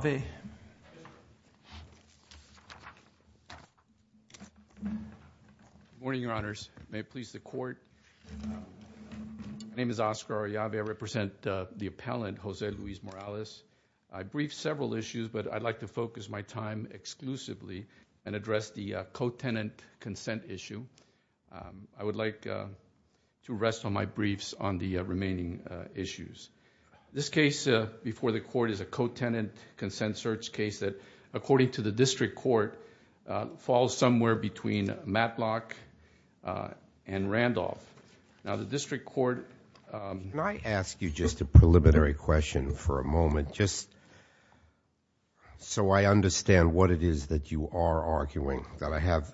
Good morning, Your Honors. May it please the Court. My name is Oscar Ollave. I represent the appellant, Jose Luis Morales. I briefed several issues, but I'd like to focus my time exclusively and address the co-tenant consent issue. I would like to rest on my briefs on the remaining issues. This case before the Court is a co-tenant consent search case that, according to the District Court, falls somewhere between Matlock and Randolph. Now the District Court... Judge Goldberg May I ask you just a preliminary question for a moment just so I understand what it is that you are arguing, that I have...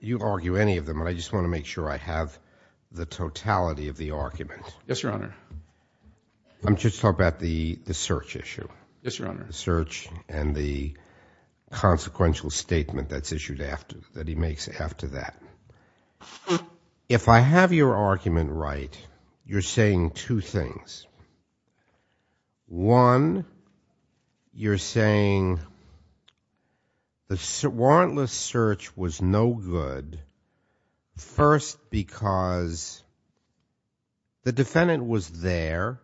you argue any of them, but I just want to make sure I have the totality of the argument. Oscar Ollave Yes, Your Honor. Judge Goldberg I'm just talking about the search issue... Oscar Ollave Yes, Your Honor. Judge Goldberg... the search and the consequential statement that's issued after, that he makes after that. If I have your argument right, you're saying two things. One, you're saying the warrantless search was no good, first because the defendant was there,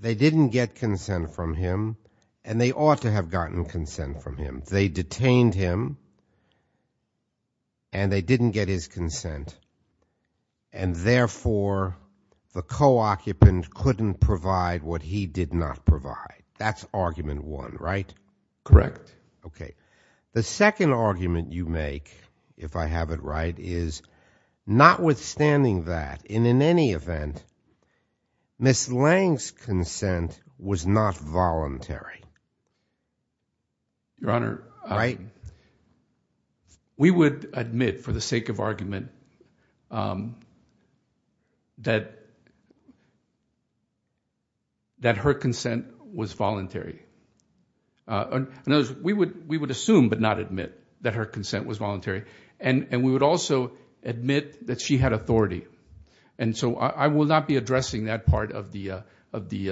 they didn't get consent from him, and they ought to have gotten consent from couldn't provide what he did not provide. That's argument one, right? Oscar Ollave Correct. Judge Goldberg Okay. The second argument you make, if I have it right, is, notwithstanding that, and in any event, Ms. Lange's consent was not voluntary. Oscar Ollave Your Honor... Judge Goldberg Right? Oscar Ollave We would admit, for the sake of argument, that her consent was voluntary. In other words, we would assume, but not admit, that her consent was voluntary. And we would also admit that she had authority. And so I will not be addressing that part of the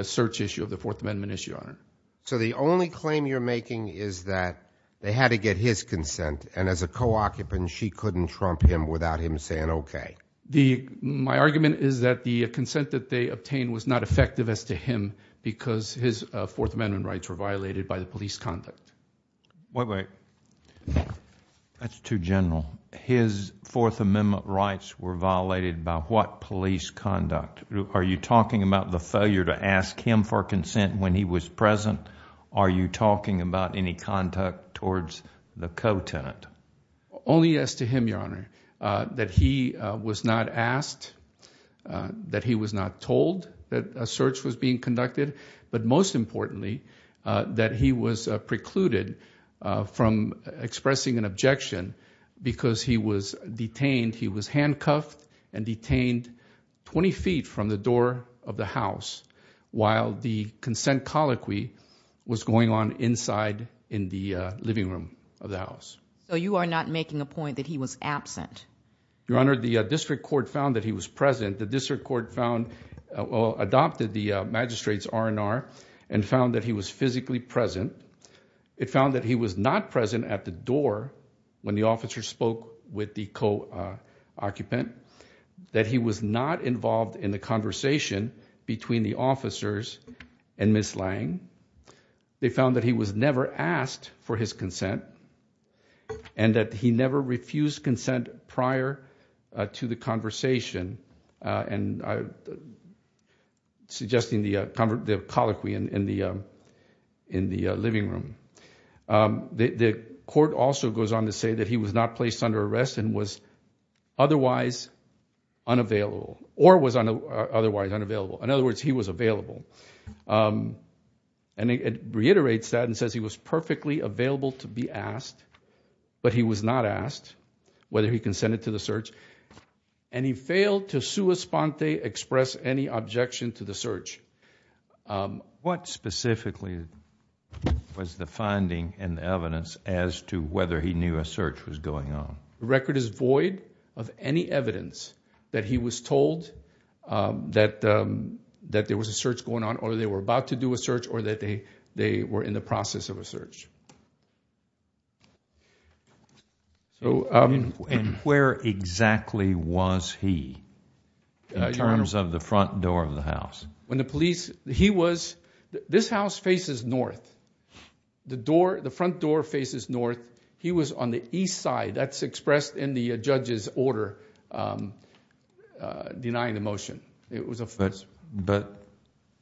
search issue, of the Fourth Amendment issue, Your Honor. Judge Goldberg So the only claim you're making is that they had to get his consent, and as a co-occupant, she couldn't trump him without him saying okay. Oscar Ollave My argument is that the consent that they obtained was not effective as to him, because his Fourth Amendment rights were violated by the police conduct. Judge Goldberg Wait, wait. That's too general. His Fourth Amendment rights were violated by what police conduct? Are you talking about the failure to ask him for consent when he was present? Are you talking about any conduct towards the co-tenant? Oscar Ollave Only as to him, Your Honor. That he was not asked, that he was not told that a search was being conducted, but most importantly, that he was precluded from expressing an objection because he was detained. He was handcuffed and detained 20 feet from the door of the house while the consent colloquy was going on. Judge Goldberg So you are not making a point that he was absent? Oscar Ollave Your Honor, the district court found that he was present. The district court adopted the magistrate's R&R and found that he was physically present. It found that he was not present at the door when the officer spoke with the co-occupant, that he was not involved in the conversation between the officers and his consent, and that he never refused consent prior to the conversation. And I'm suggesting the colloquy in the living room. The court also goes on to say that he was not placed under arrest and was otherwise unavailable, or was otherwise unavailable. In other words, he was available. And it reiterates that and says he was perfectly available to be asked, but he was not asked whether he consented to the search, and he failed to sua sponte, express any objection to the search. Judge Goldberg What specifically was the finding and evidence as to whether he knew a search was going on? Oscar Ollave The record is void of any evidence that he was told that there was a search going on, or they were about to do a search, or that they were in the process of a search. Judge Goldberg And where exactly was he in terms of the front door of the house? Oscar Ollave When the police... he was... this house faces north. The front door faces north. He was on the east side. That's expressed in the judge's order denying the motion. It was a... Judge Goldberg But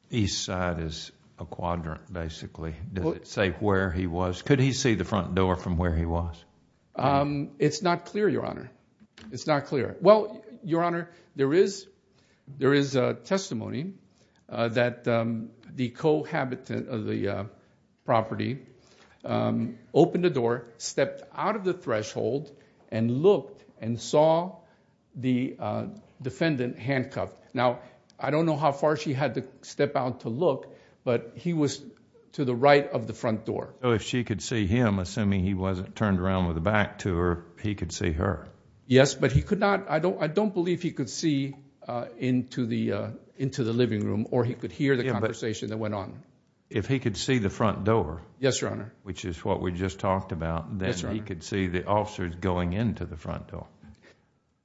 east side is a quadrant, basically. Does it say where he was? Could he see the front door from where he was? Oscar Ollave It's not clear, Your Honor. It's not clear. Well, Your Honor, there is testimony that the cohabitant of the property opened the door, and saw the defendant handcuffed. Now, I don't know how far she had to step out to look, but he was to the right of the front door. Judge Goldberg So if she could see him, assuming he wasn't turned around with the back to her, he could see her? Oscar Ollave Yes, but he could not... I don't believe he could see into the living room, or he could hear the conversation that went on. Judge Goldberg If he could see the front door... Oscar Ollave Yes, Your Honor. Judge Goldberg... which is what we just talked about... Oscar Ollave Yes, Your Honor. Judge Goldberg... he could see the officers going into the Oscar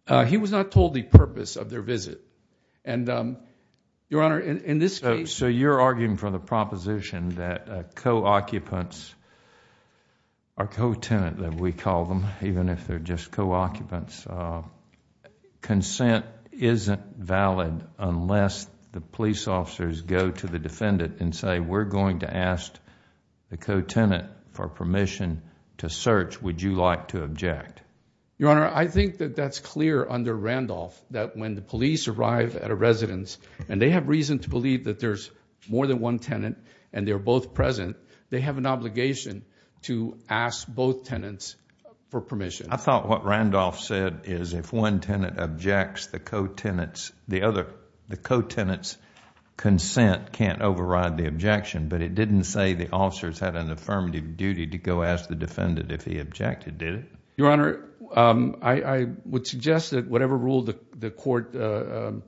Ollave He was not told the purpose of their visit, and Your Honor, in this case... Judge Goldberg So you're arguing for the proposition that co-occupants, or co-tenant as we call them, even if they're just co-occupants, consent isn't valid unless the police officers go to the defendant and say, we're going to ask the co-tenant for permission to search. Would you like to object? Oscar Ollave Your Honor, I think that that's clear under Randolph that when the police arrive at a residence, and they have reason to believe that there's more than one tenant, and they're both present, they have an obligation to ask both tenants for permission. Judge Goldberg I thought what Randolph said is if one tenant objects the co-tenant's... the co-tenant's consent can't override the objection, but it didn't say the officers had an affirmative duty to go ask the defendant if he objected, did it? Oscar Ollave Your Honor, I would suggest that whatever rule the court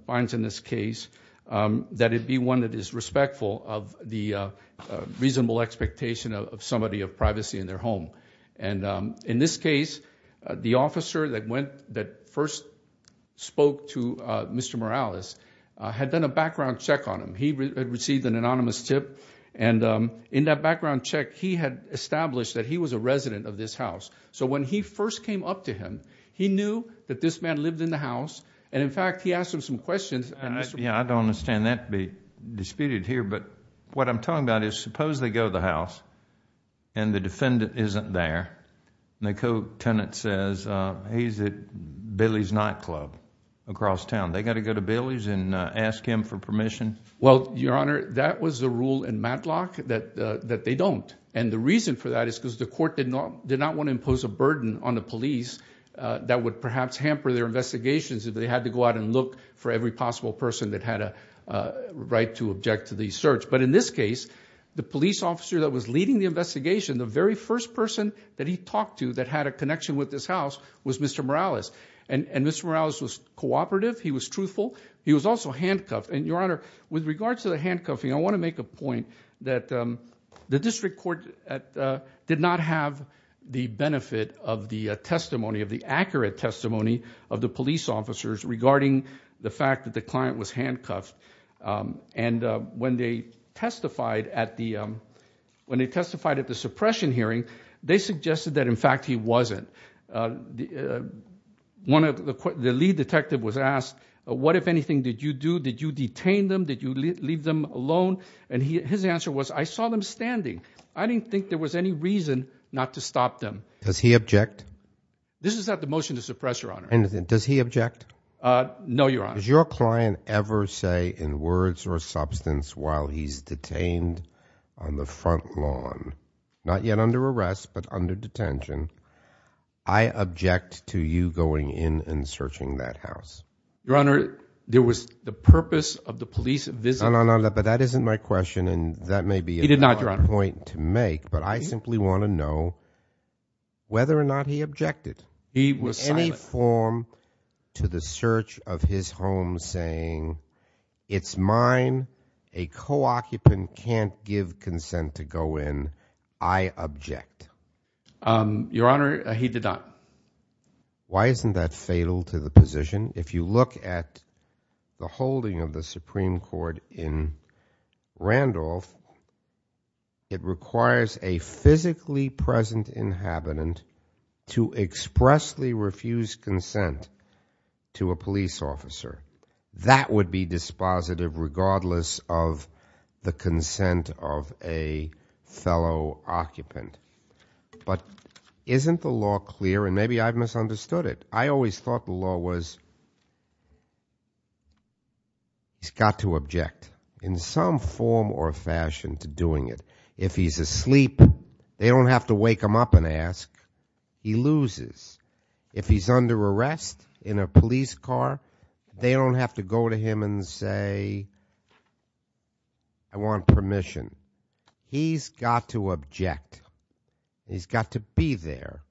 finds in this case, that it be one that is respectful of the reasonable expectation of somebody of privacy in their home. In this case, the officer that first spoke to Mr. Morales had done a background check on him. He had received an anonymous tip, and in that background check, he had established that he was a resident of this house. When he first came up to him, he knew that this man lived in the house, and in fact, he asked him some questions... Judge Goldberg I don't understand that to be disputed here, but what I'm talking about is suppose they go to the house, and the defendant isn't there, and the co-tenant says, he's at Billy's Nightclub across town. They got to go to Billy's and ask him for permission? Oscar Ollave Well, Your Honor, that was the rule in Matlock that they don't, and the reason for that is because the court did not want to impose a burden on the police that would perhaps hamper their investigations if they had to go out and look for every possible person that had a right to object to the search. But in this case, the police officer that was leading the search, the first person that he talked to that had a connection with this house was Mr. Morales, and Mr. Morales was cooperative. He was truthful. He was also handcuffed, and, Your Honor, with regards to the handcuffing, I want to make a point that the district court did not have the benefit of the testimony, of the accurate testimony of the police officers regarding the fact that the client was handcuffed. And when they testified at the suppression hearing, they suggested that, in fact, he wasn't. The lead detective was asked, what, if anything, did you do? Did you detain them? Did you leave them alone? And his answer was, I saw them standing. I didn't think there was any reason not to stop them. Judge Goldberg Does he object? Oscar Ollave This is not the motion to suppress, Your Honor. Judge Goldberg And does he object? Oscar Ollave No, Your Honor. Judge Goldberg Does your client ever say, in words or substance, while he's detained on the front lawn, not yet under arrest, but under detention, I object to you going in and searching that house? Oscar Ollave Your Honor, there was the purpose of the police visit. Judge Goldberg No, no, no. But that isn't my question, and that may be Oscar Ollave He did not, Your Honor. Judge Goldberg a point to make, but I simply want to know whether or not he objected. Oscar Ollave He was silent. He did not conform to the search of his home, saying, it's mine. A co-occupant can't give consent to go in. I object. Judge Goldberg Your Honor, he did not. Judge Goldberg Why isn't that fatal to the position? If you look at the holding of the Supreme Court in Randolph, it requires a physically present inhabitant to expressly refuse consent to a police officer. That would be dispositive, regardless of the consent of a fellow occupant. But isn't the law clear, and maybe I've misunderstood it. I always thought the law was, he's got to object in some form or fashion to doing it. If he's asleep, they don't have to wake him up and ask. He loses. If he's under arrest in a police car, they don't have to go to him and say, I want permission. He's got to object. He's got to be there.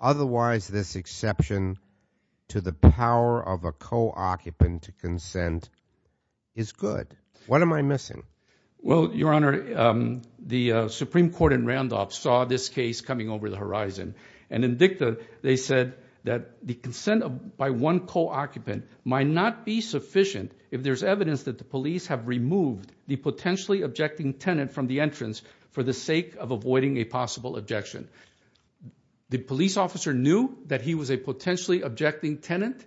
Otherwise this exception to the power of a co-occupant to consent is good. What am I missing? Judge Goldberg Well, Your Honor, the Supreme Court in Randolph saw this case coming over the horizon, and in dicta they said that the consent by one co-occupant might not be sufficient if there's evidence that the police have removed the potentially objecting tenant from the entrance for the sake of avoiding a possible objection. The police officer knew that he was a potentially objecting tenant.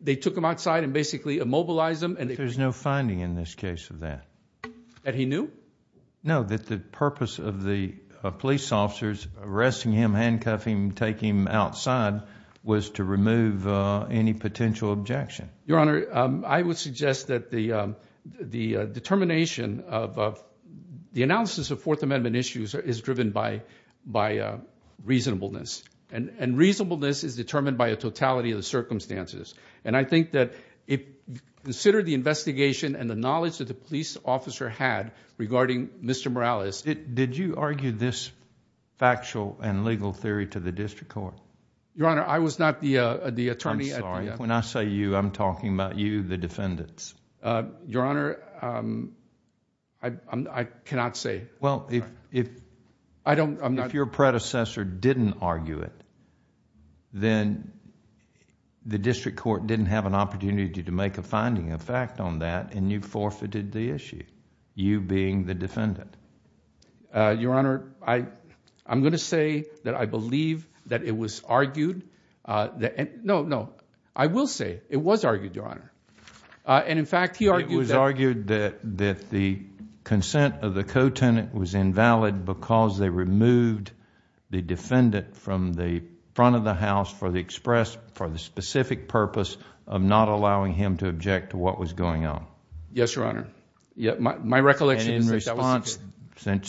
They took him outside and basically immobilized him. Judge Goldberg There's no finding in this case of that. Judge Goldberg That he knew? Judge Goldberg No, that the purpose of the police officers arresting him, handcuffing him, taking him outside was to remove any potential objection. Judge Goldberg Your Honor, I would suggest that the determination of the analysis of Fourth Amendment issues is driven by reasonableness. And reasonableness is determined by a totality of the circumstances. And I think that if you consider the investigation and the knowledge that the police officer had regarding Mr. Morales... Judge Goldberg Did you argue this factual and legal theory to the district court? Judge Goldberg Your Honor, I was not the attorney at the... Judge Morales I'm sorry. When I say you, I'm talking about you, the defendants. Judge Goldberg Your Honor, I cannot say. Judge Morales Well, if... Judge Goldberg I don't... opportunity to make a finding of fact on that and you forfeited the issue, you being the defendant. Judge Goldberg Your Honor, I'm going to say that I believe that it was argued... No, no. I will say it was argued, Your Honor. And in fact, he argued that... Judge Morales It was argued that the consent of the co-tenant was invalid because they removed the defendant from the front of the house for the specific purpose of not allowing him to object to what was going on. Judge Goldberg Yes, Your Honor. My recollection is that that was... Judge Morales And in response,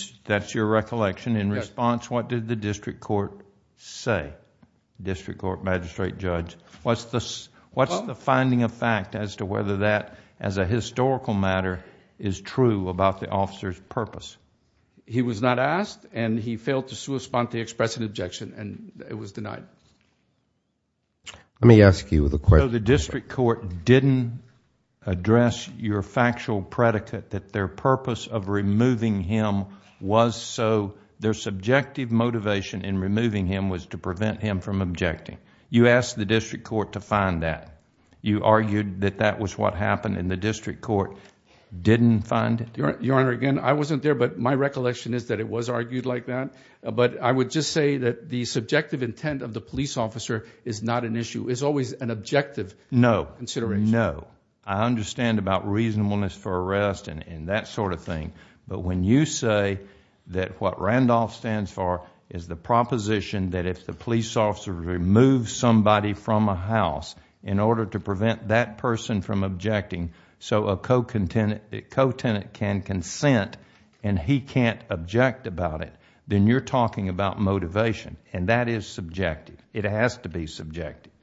since that's your recollection, in response what did the district court say, District Court Magistrate Judge? What's the finding of fact as to whether that, as a historical matter, is true about the officer's purpose? Judge Goldberg He was not asked and he failed to respond to express an objection and it was denied. Judge Goldberg Let me ask you the question... The district court didn't address your factual predicate that their purpose of removing him was so... their subjective motivation in removing him was to prevent him from objecting. You asked the district court to find that. You argued that that was what happened and the district court didn't find it. Judge Morales Your Honor, again, I wasn't there but my I would just say that the subjective intent of the police officer is not an issue. It's always an objective consideration. Judge Goldberg No, no. I understand about reasonableness for arrest and that sort of thing but when you say that what Randolph stands for is the proposition that if the police officer removes somebody from a house in order to prevent that person from objecting so a co-tenant can consent and he can't object about it, then you're talking about motivation and that is subjective. It has to be subjective.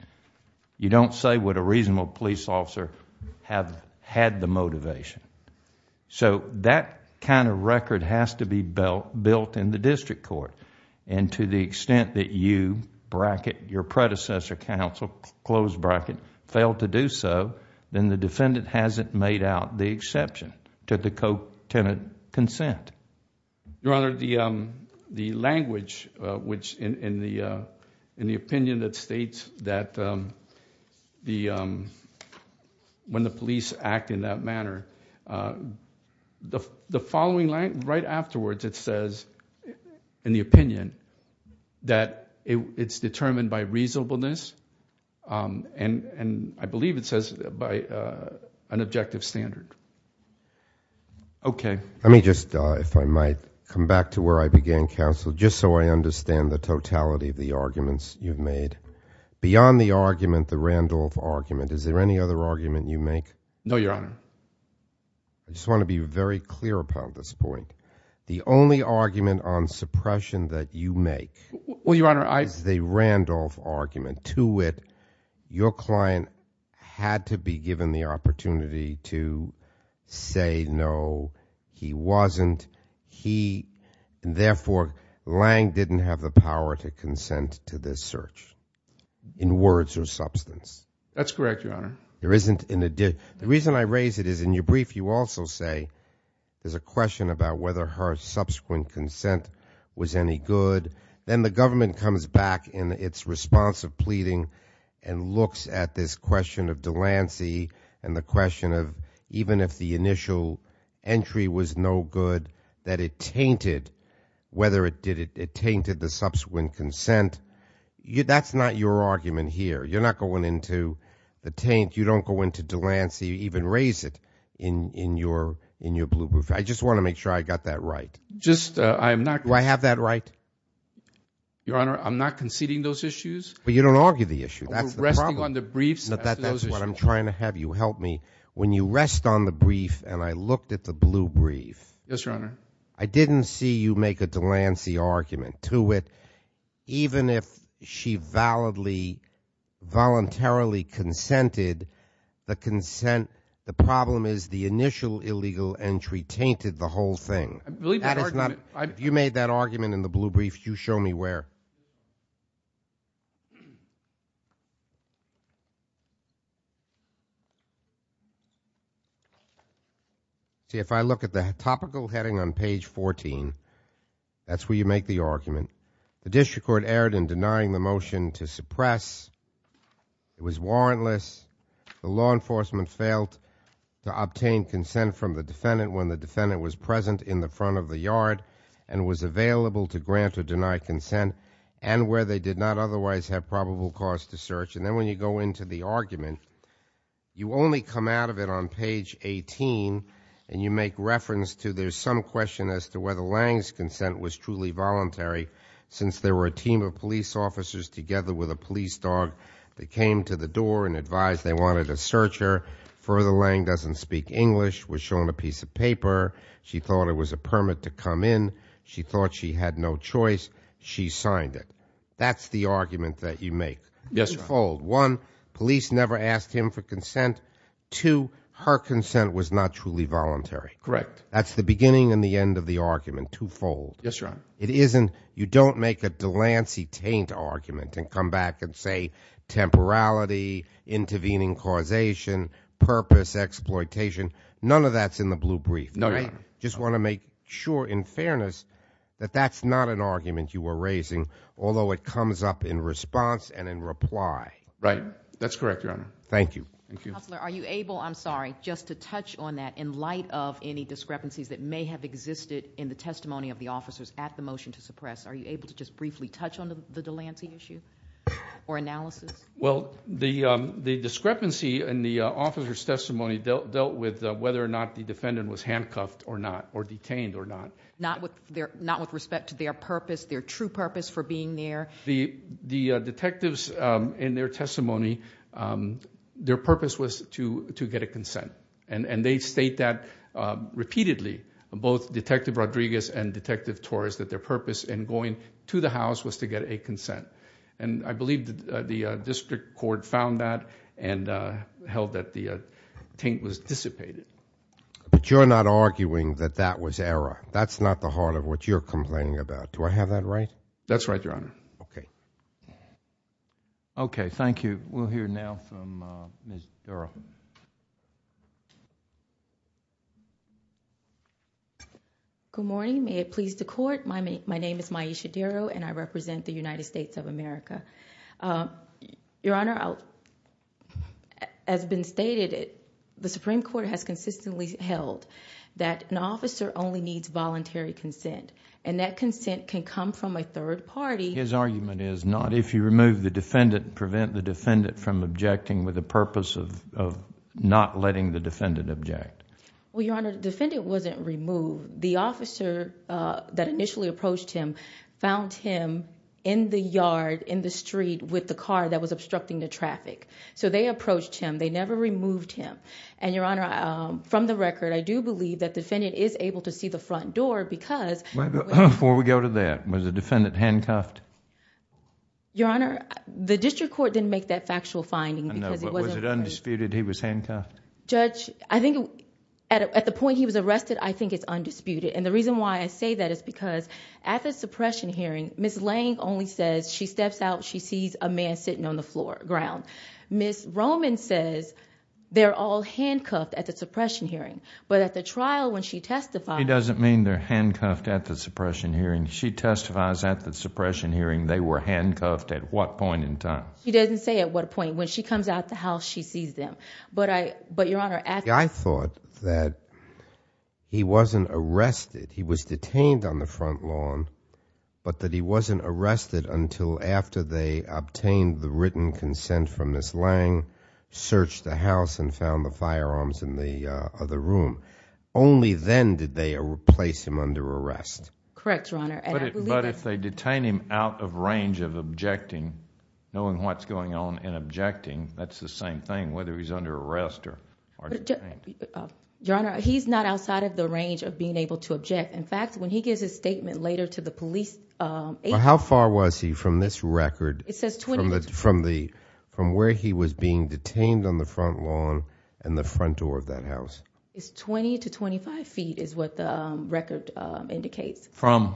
You don't say would a reasonable police officer have had the motivation. That kind of record has to be built in the district court and to the extent that you bracket your predecessor counsel, close bracket, failed to do so, then the defendant hasn't made out the exception to the co-tenant consent. Judge Morales Your Honor, the language which in the opinion that states that when the police act in that manner, the following line right afterwards it says in the opinion that it's determined by reasonableness and I believe it says by an objective standard. Okay. Judge Goldberg Let me just, if I might, come back to where I began counsel just so I understand the totality of the arguments you've made. Beyond the argument, the Randolph argument, is there any other argument you make? Judge Morales No, Your Honor. Judge Goldberg I just want to be very clear about this point. The only argument on suppression that you make is the Randolph argument. To it, your client had to be given the opportunity to say no, he wasn't, he, and therefore, Lange didn't have the power to consent to this search in words or substance. Judge Morales That's correct, Your Honor. Judge Goldberg There isn't in addition, the reason I raise it is in your brief, you also say there's a question about whether her subsequent consent was any good. Then the government comes back in its response of pleading and looks at this question of Delancey and the question of even if the initial entry was no good, that it tainted, whether it did, it tainted the subsequent consent. That's not your argument here. You're not going into the taint. I don't think you don't go into Delancey, even raise it in your, in your blue brief. I just want to make sure I got that right. Judge Morales Just, I'm not. Judge Goldberg Do I have that right? Judge Morales Your Honor, I'm not conceding those issues. Judge Goldberg But you don't argue the issue. That's the problem. Judge Morales We're resting on the briefs as to those issues. Judge Goldberg That's what I'm trying to have you help me. When you rest on the brief and I looked at the blue brief. Judge Morales Yes, Your Honor. Judge Goldberg I didn't see you make a Delancey argument. to it, even if she validly, voluntarily consented, the consent. The problem is the initial illegal entry tainted the whole thing. Judge Morales I believe that argument. Judge Goldberg That is not. You made that argument in the blue brief. You show me where. See, if I look at the topical heading on page 14, that's where you make the argument. The district court erred in denying the motion to suppress. It was warrantless. The law enforcement failed to obtain consent from the defendant when the defendant was present in the front of the yard and was available to grant or deny consent and where they did not otherwise have probable cause to search. And then when you go into the argument, you only come out of it on page 18 and you make reference to there's some question as to whether Lange's consent was truly voluntary since there were a team of police officers together with a police dog that came to the door and advised they wanted a searcher. Further Lange doesn't speak English, was shown a piece of paper. She thought it was a permit to come in. She thought she had no choice. She signed it. That's the argument that you make. Yes, fold one. Police never asked him for consent to her consent was not truly voluntary. Correct. That's the beginning and the end of the argument to fold. Yes, sir. It isn't. You don't make a Delancey taint argument and come back and say temporality, intervening causation, purpose, exploitation, none of that's in the blue brief. Just want to make sure in fairness that that's not an argument you were raising, although it comes up in response and in reply. Right. That's correct, Your Honor. Thank you. Thank you. Counselor, are you able, I'm sorry, just to touch on that in light of any discrepancies that may have existed in the testimony of the officers at the motion to suppress? Are you able to just briefly touch on the Delancey issue or analysis? Not with respect to their purpose, their true purpose for being there. The detectives in their testimony, their purpose was to get a consent. And they state that repeatedly, both Detective Rodriguez and Detective Torres, that their purpose in going to the house was to get a consent. And I believe that the district court found that and held that the taint was dissipated. But you're not arguing that that was error. That's not the heart of what you're complaining about. Do I have that right? That's right, Your Honor. Okay. Okay, thank you. We'll hear now from Ms. Darrow. Good morning, may it please the court. My name is Myisha Darrow and I represent the United States of America. Your Honor, as been stated, the Supreme Court has consistently held that an officer only needs voluntary consent. And that consent can come from a third party. His argument is not if you remove the defendant, prevent the defendant from objecting with the purpose of not letting the defendant object. Well, Your Honor, the defendant wasn't removed. The officer that initially approached him found him in the yard, in the street with the car that was obstructing the traffic. So they approached him. They never removed him. And Your Honor, from the record, I do believe that the defendant is able to see the front door because... Before we go to that, was the defendant handcuffed? Your Honor, the district court didn't make that factual finding because it wasn't... I know, but was it undisputed he was handcuffed? Judge, I think at the point he was arrested, I think it's undisputed. And the reason why I say that is because at the suppression hearing, Ms. Lane only says she steps out, she sees a man sitting on the floor, ground. Ms. Roman says they're all handcuffed at the suppression hearing. But at the trial when she testifies... She doesn't mean they're handcuffed at the suppression hearing. She testifies at the suppression hearing they were handcuffed at what point in time? She doesn't say at what point. When she comes out the house, she sees them. But I, but Your Honor... I thought that he wasn't arrested. He was detained on the front lawn, but that he wasn't arrested until after they obtained the written consent from Ms. Lane, searched the house, and found the firearms in the other room. Only then did they place him under arrest. Correct, Your Honor. And I believe that... But if they detain him out of range of objecting, knowing what's going on in objecting, that's the same thing, whether he's under arrest or detained. Your Honor, he's not outside of the range of being able to object. In fact, when he gives his statement later to the police... But how far was he from this record... It says 20... From the, from where he was being detained on the front lawn and the front door of that house? It's 20 to 25 feet is what the record indicates. From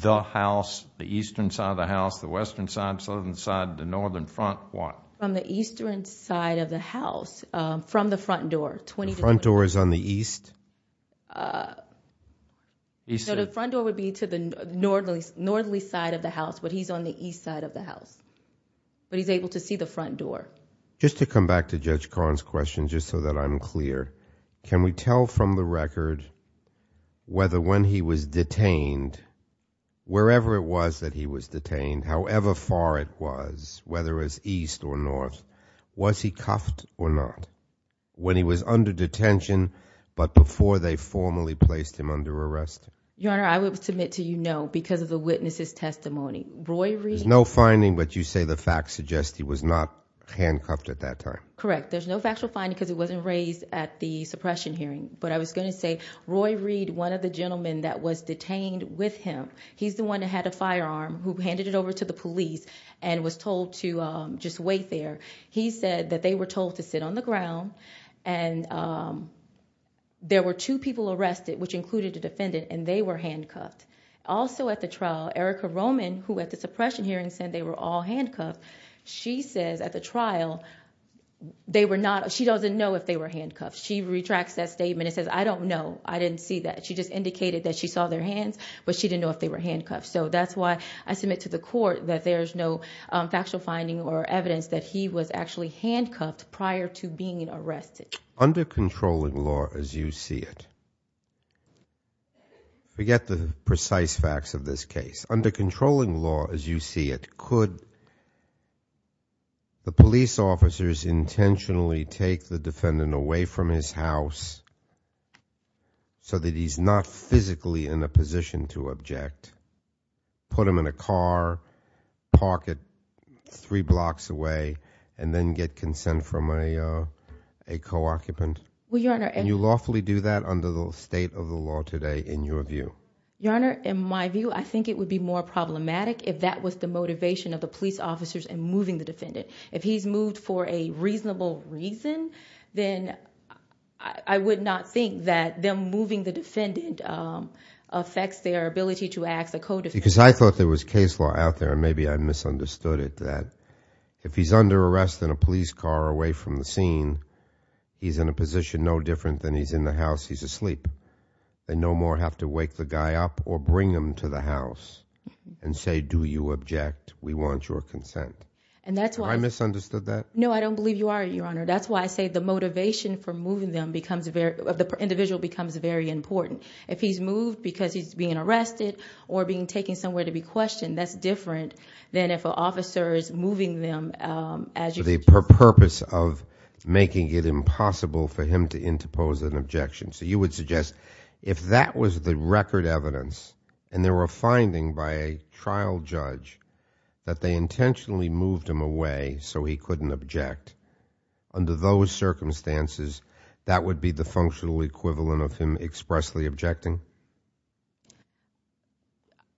the house, the eastern side of the house, the western side, southern side, the northern front, what? From the eastern side of the house, from the front door, 20 to 25 feet. The front door is on the east? No, the front door would be to the northerly side of the house, but he's on the east side of the house. But he's able to see the front door. Just to come back to Judge Karn's question, just so that I'm clear, can we tell from the record whether when he was detained, wherever it was that he was detained, however far it was to the north, was he cuffed or not? When he was under detention, but before they formally placed him under arrest? Your Honor, I would submit to you, no, because of the witness's testimony. Roy Reed... There's no finding, but you say the facts suggest he was not handcuffed at that time? Correct. There's no factual finding because it wasn't raised at the suppression hearing. But I was going to say, Roy Reed, one of the gentlemen that was detained with him, he's the one that had a firearm, who handed it over to the police, and was told to just wait there. He said that they were told to sit on the ground, and there were two people arrested, which included a defendant, and they were handcuffed. Also at the trial, Erica Roman, who at the suppression hearing said they were all handcuffed, she says at the trial, she doesn't know if they were handcuffed. She retracts that statement and says, I don't know. I didn't see that. She just indicated that she saw their hands, but she didn't know if they were handcuffed. So that's why I submit to the court that there's no factual finding or evidence that he was actually handcuffed prior to being arrested. Under controlling law, as you see it... Forget the precise facts of this case. Under controlling law, as you see it, could the police officers intentionally take the not physically in a position to object, put him in a car, park it three blocks away, and then get consent from a co-occupant? Well, Your Honor... And you lawfully do that under the state of the law today, in your view? Your Honor, in my view, I think it would be more problematic if that was the motivation of the police officers in moving the defendant. If he's moved for a reasonable reason, then I would not think that them moving the defendant affects their ability to act as a co-defendant. Because I thought there was case law out there, and maybe I misunderstood it, that if he's under arrest in a police car away from the scene, he's in a position no different than he's in the house. He's asleep. They no more have to wake the guy up or bring him to the house and say, do you object? We want your consent. And that's why... Have I misunderstood that? No, I don't believe you are, Your Honor. That's why I say the motivation for moving them becomes very... the individual becomes very important. If he's moved because he's being arrested or being taken somewhere to be questioned, that's different than if an officer is moving them as you... For the purpose of making it impossible for him to interpose an objection. So you would suggest if that was the record evidence, and there were findings by a trial judge, that they intentionally moved him away so he couldn't object, under those circumstances, that would be the functional equivalent of him expressly objecting?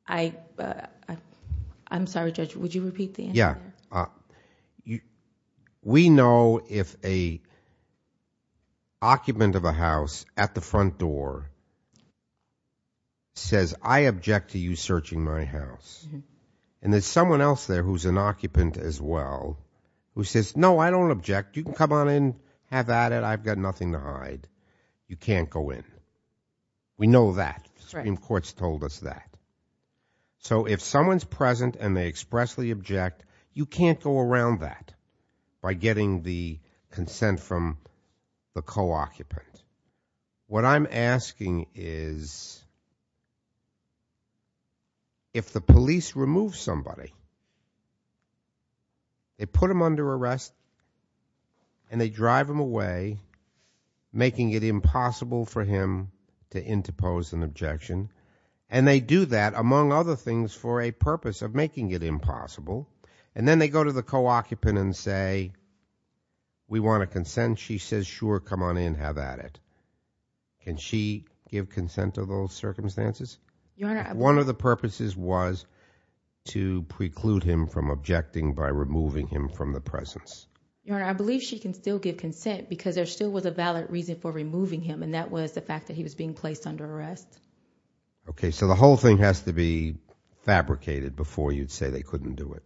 I... I'm sorry, Judge, would you repeat the answer? Yeah. You... We know if a occupant of a house at the front door says, I object to you searching my house, and there's someone else there who's an occupant as well, who says, no, I don't object. You can come on in, have at it, I've got nothing to hide. You can't go in. We know that. The Supreme Court's told us that. So if someone's present and they expressly object, you can't go around that by getting the consent from the co-occupant. What I'm asking is, if the police remove somebody, they put them under arrest, and they drive him away, making it impossible for him to interpose an objection, and they do that, among other things, for a purpose of making it impossible, and then they go to the co-occupant and say, we want a consent. She says, sure, come on in, have at it. Can she give consent to those circumstances? One of the purposes was to preclude him from objecting by removing him from the presence. Your Honor, I believe she can still give consent, because there still was a valid reason for removing him, and that was the fact that he was being placed under arrest. Okay, so the whole thing has to be fabricated before you'd say they couldn't do it.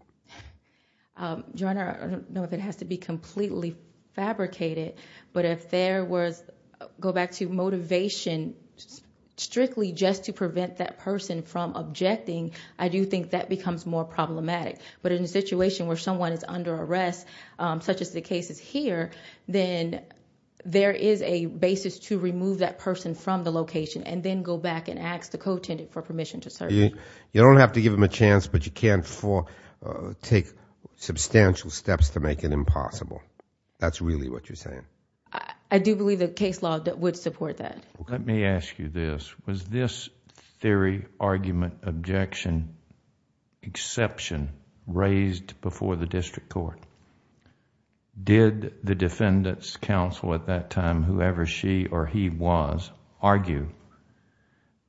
Your Honor, I don't know if it has to be completely fabricated, but if there was, go back to motivation, strictly just to prevent that person from objecting, I do think that becomes more problematic. In a situation where someone is under arrest, such as the cases here, then there is a basis to remove that person from the location, and then go back and ask the co-attendant for permission to search. You don't have to give him a chance, but you can take substantial steps to make it impossible. That's really what you're saying. I do believe the case law would support that. Let me ask you this. Was this theory, argument, objection, exception raised before the district court? Did the defendant's counsel at that time, whoever she or he was, argue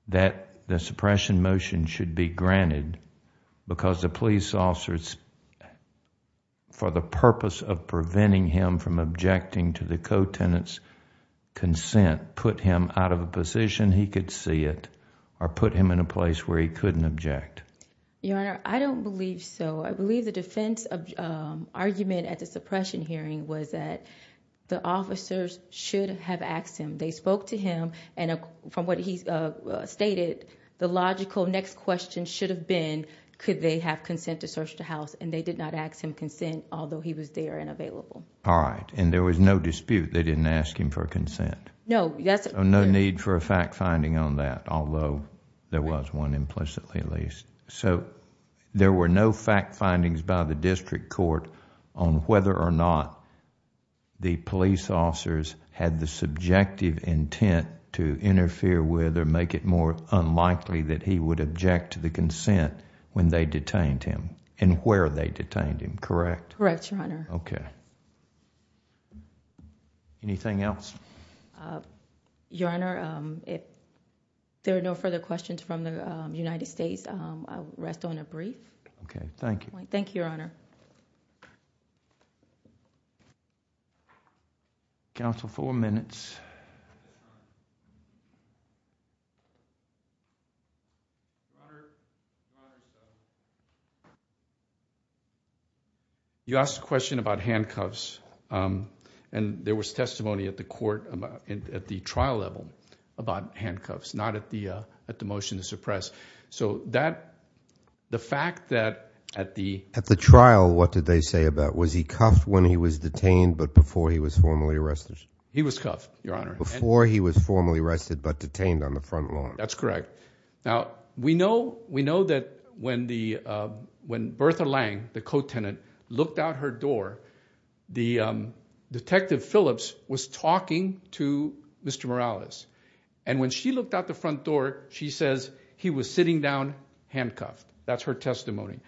that the suppression motion should be granted because the police officers, for the purpose of preventing him from objecting to the co-attendant's consent, put him out of a position he could see it, or put him in a place where he couldn't object? Your Honor, I don't believe so. I believe the defense argument at the suppression hearing was that the officers should have asked him. They spoke to him, and from what he stated, the logical next question should have been, could they have consent to search the house, and they did not ask him consent, although he was there and available. All right. There was no dispute. They didn't ask him for consent. No need for a fact finding on that, although there was one implicitly at least. There were no fact findings by the district court on whether or not the police officers had the subjective intent to interfere with or make it more unlikely that he would object to the consent when they detained him, and where they detained him, correct? Correct, Your Honor. Okay. Anything else? Your Honor, if there are no further questions from the United States, I will rest on a brief. Okay. Thank you. Thank you, Your Honor. Counsel, four minutes. Your Honor, you asked a question about handcuffs, and there was testimony at the trial level about handcuffs, not at the motion to suppress. The fact that at the... At the trial, what did they say about, was he cuffed when he was detained, but before he was formally arrested? He was cuffed, Your Honor. Before he was formally arrested, but detained on the front lawn. That's correct. Now, we know that when Bertha Lange, the co-tenant, looked out her door, the Detective Phillips was talking to Mr. Morales, and when she looked out the front door, she says he was sitting down handcuffed. That's her testimony.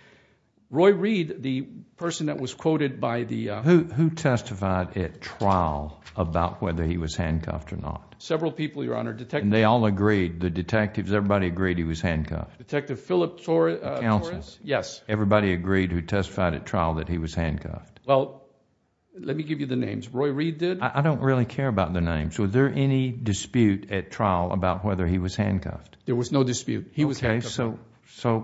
Roy Reed, the person that was quoted by the... Who testified at trial about whether he was handcuffed or not? Several people, Your Honor. Detectives... They all agreed, the detectives, everybody agreed he was handcuffed? Detective Phillip Torres. The counsels? Yes. Everybody agreed who testified at trial that he was handcuffed? Let me give you the names. Roy Reed did. I don't really care about the names. Was there any dispute at trial about whether he was handcuffed? There was no dispute. He was handcuffed. Okay.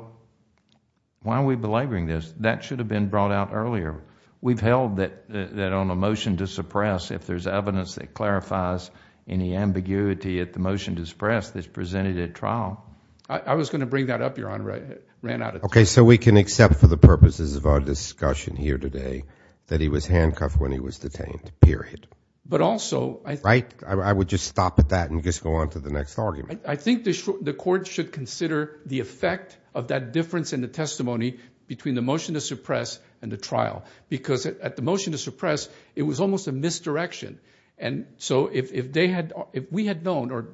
Why are we belaboring this? That should have been brought out earlier. We've held that on a motion to suppress, if there's evidence that clarifies any ambiguity at the motion to suppress that's presented at trial... I was going to bring that up, Your Honor. I ran out of time. Okay. So we can accept for the purposes of our discussion here today that he was handcuffed when he was detained, period. But also... Right? I would just stop at that and just go on to the next argument. I think the court should consider the effect of that difference in the testimony between the motion to suppress and the trial. Because at the motion to suppress, it was almost a misdirection. And so if we had known, or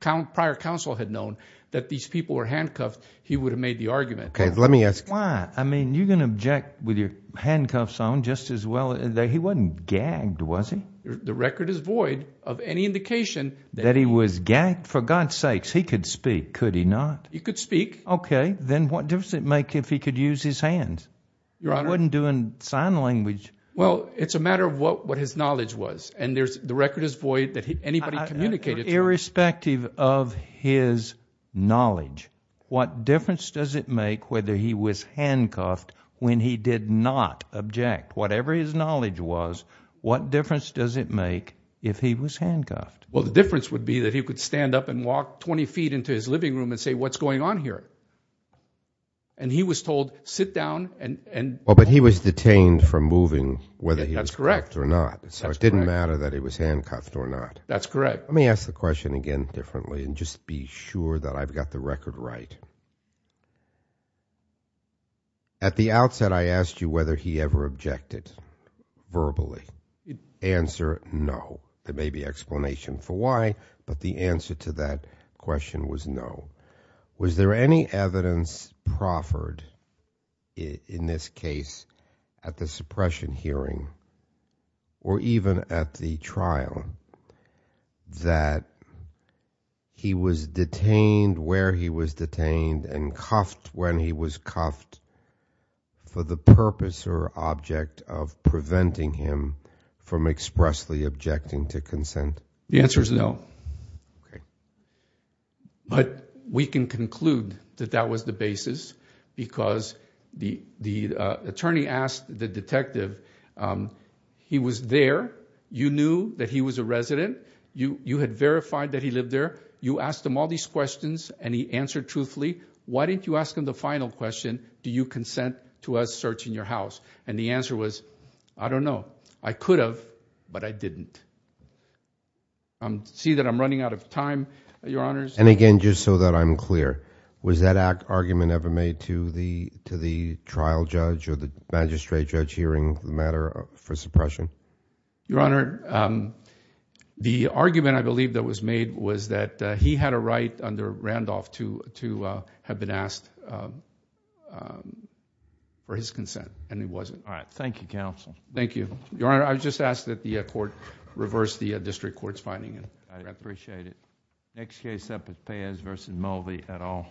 prior counsel had known, that these people were handcuffed, he would have made the argument. Okay. Let me ask... Why? I mean, you can object with your handcuffs on just as well. He wasn't gagged, was he? The record is void of any indication that he was gagged. For God's sakes, he could speak. Could he not? He could speak. Okay. Then what difference does it make if he could use his hands? Your Honor... He wasn't doing sign language. Well, it's a matter of what his knowledge was. And the record is void that anybody communicated... Irrespective of his knowledge, what difference does it make whether he was handcuffed when he did not object? Whatever his knowledge was, what difference does it make if he was handcuffed? Well, the difference would be that he could stand up and walk 20 feet into his living room and say, what's going on here? And he was told, sit down and... Well, but he was detained for moving whether he was handcuffed or not. That's correct. So it didn't matter that he was handcuffed or not. That's correct. Let me ask the question again differently and just be sure that I've got the record right. At the outset, I asked you whether he ever objected verbally. Answer no. There may be explanation for why, but the answer to that question was no. Was there any evidence proffered in this case at the suppression hearing or even at the trial that he was detained where he was detained and cuffed when he was cuffed for the purpose or object of preventing him from expressly objecting to consent? The answer is no. But we can conclude that that was the basis because the attorney asked the detective, he was there, you knew that he was a resident, you had verified that he lived there, you asked him all these questions and he answered truthfully. Why didn't you ask him the final question, do you consent to us searching your house? And the answer was, I don't know. I could have, but I didn't. See that I'm running out of time, Your Honors. And again, just so that I'm clear, was that argument ever made to the trial judge or the magistrate judge hearing the matter for suppression? Your Honor, the argument I believe that was made was that he had a right under Randolph to have been asked for his consent and he wasn't. All right. Thank you, counsel. Thank you. Your Honor, I just ask that the court reverse the district court's finding. I appreciate it. Next case up is Pez v. Mulvey et al.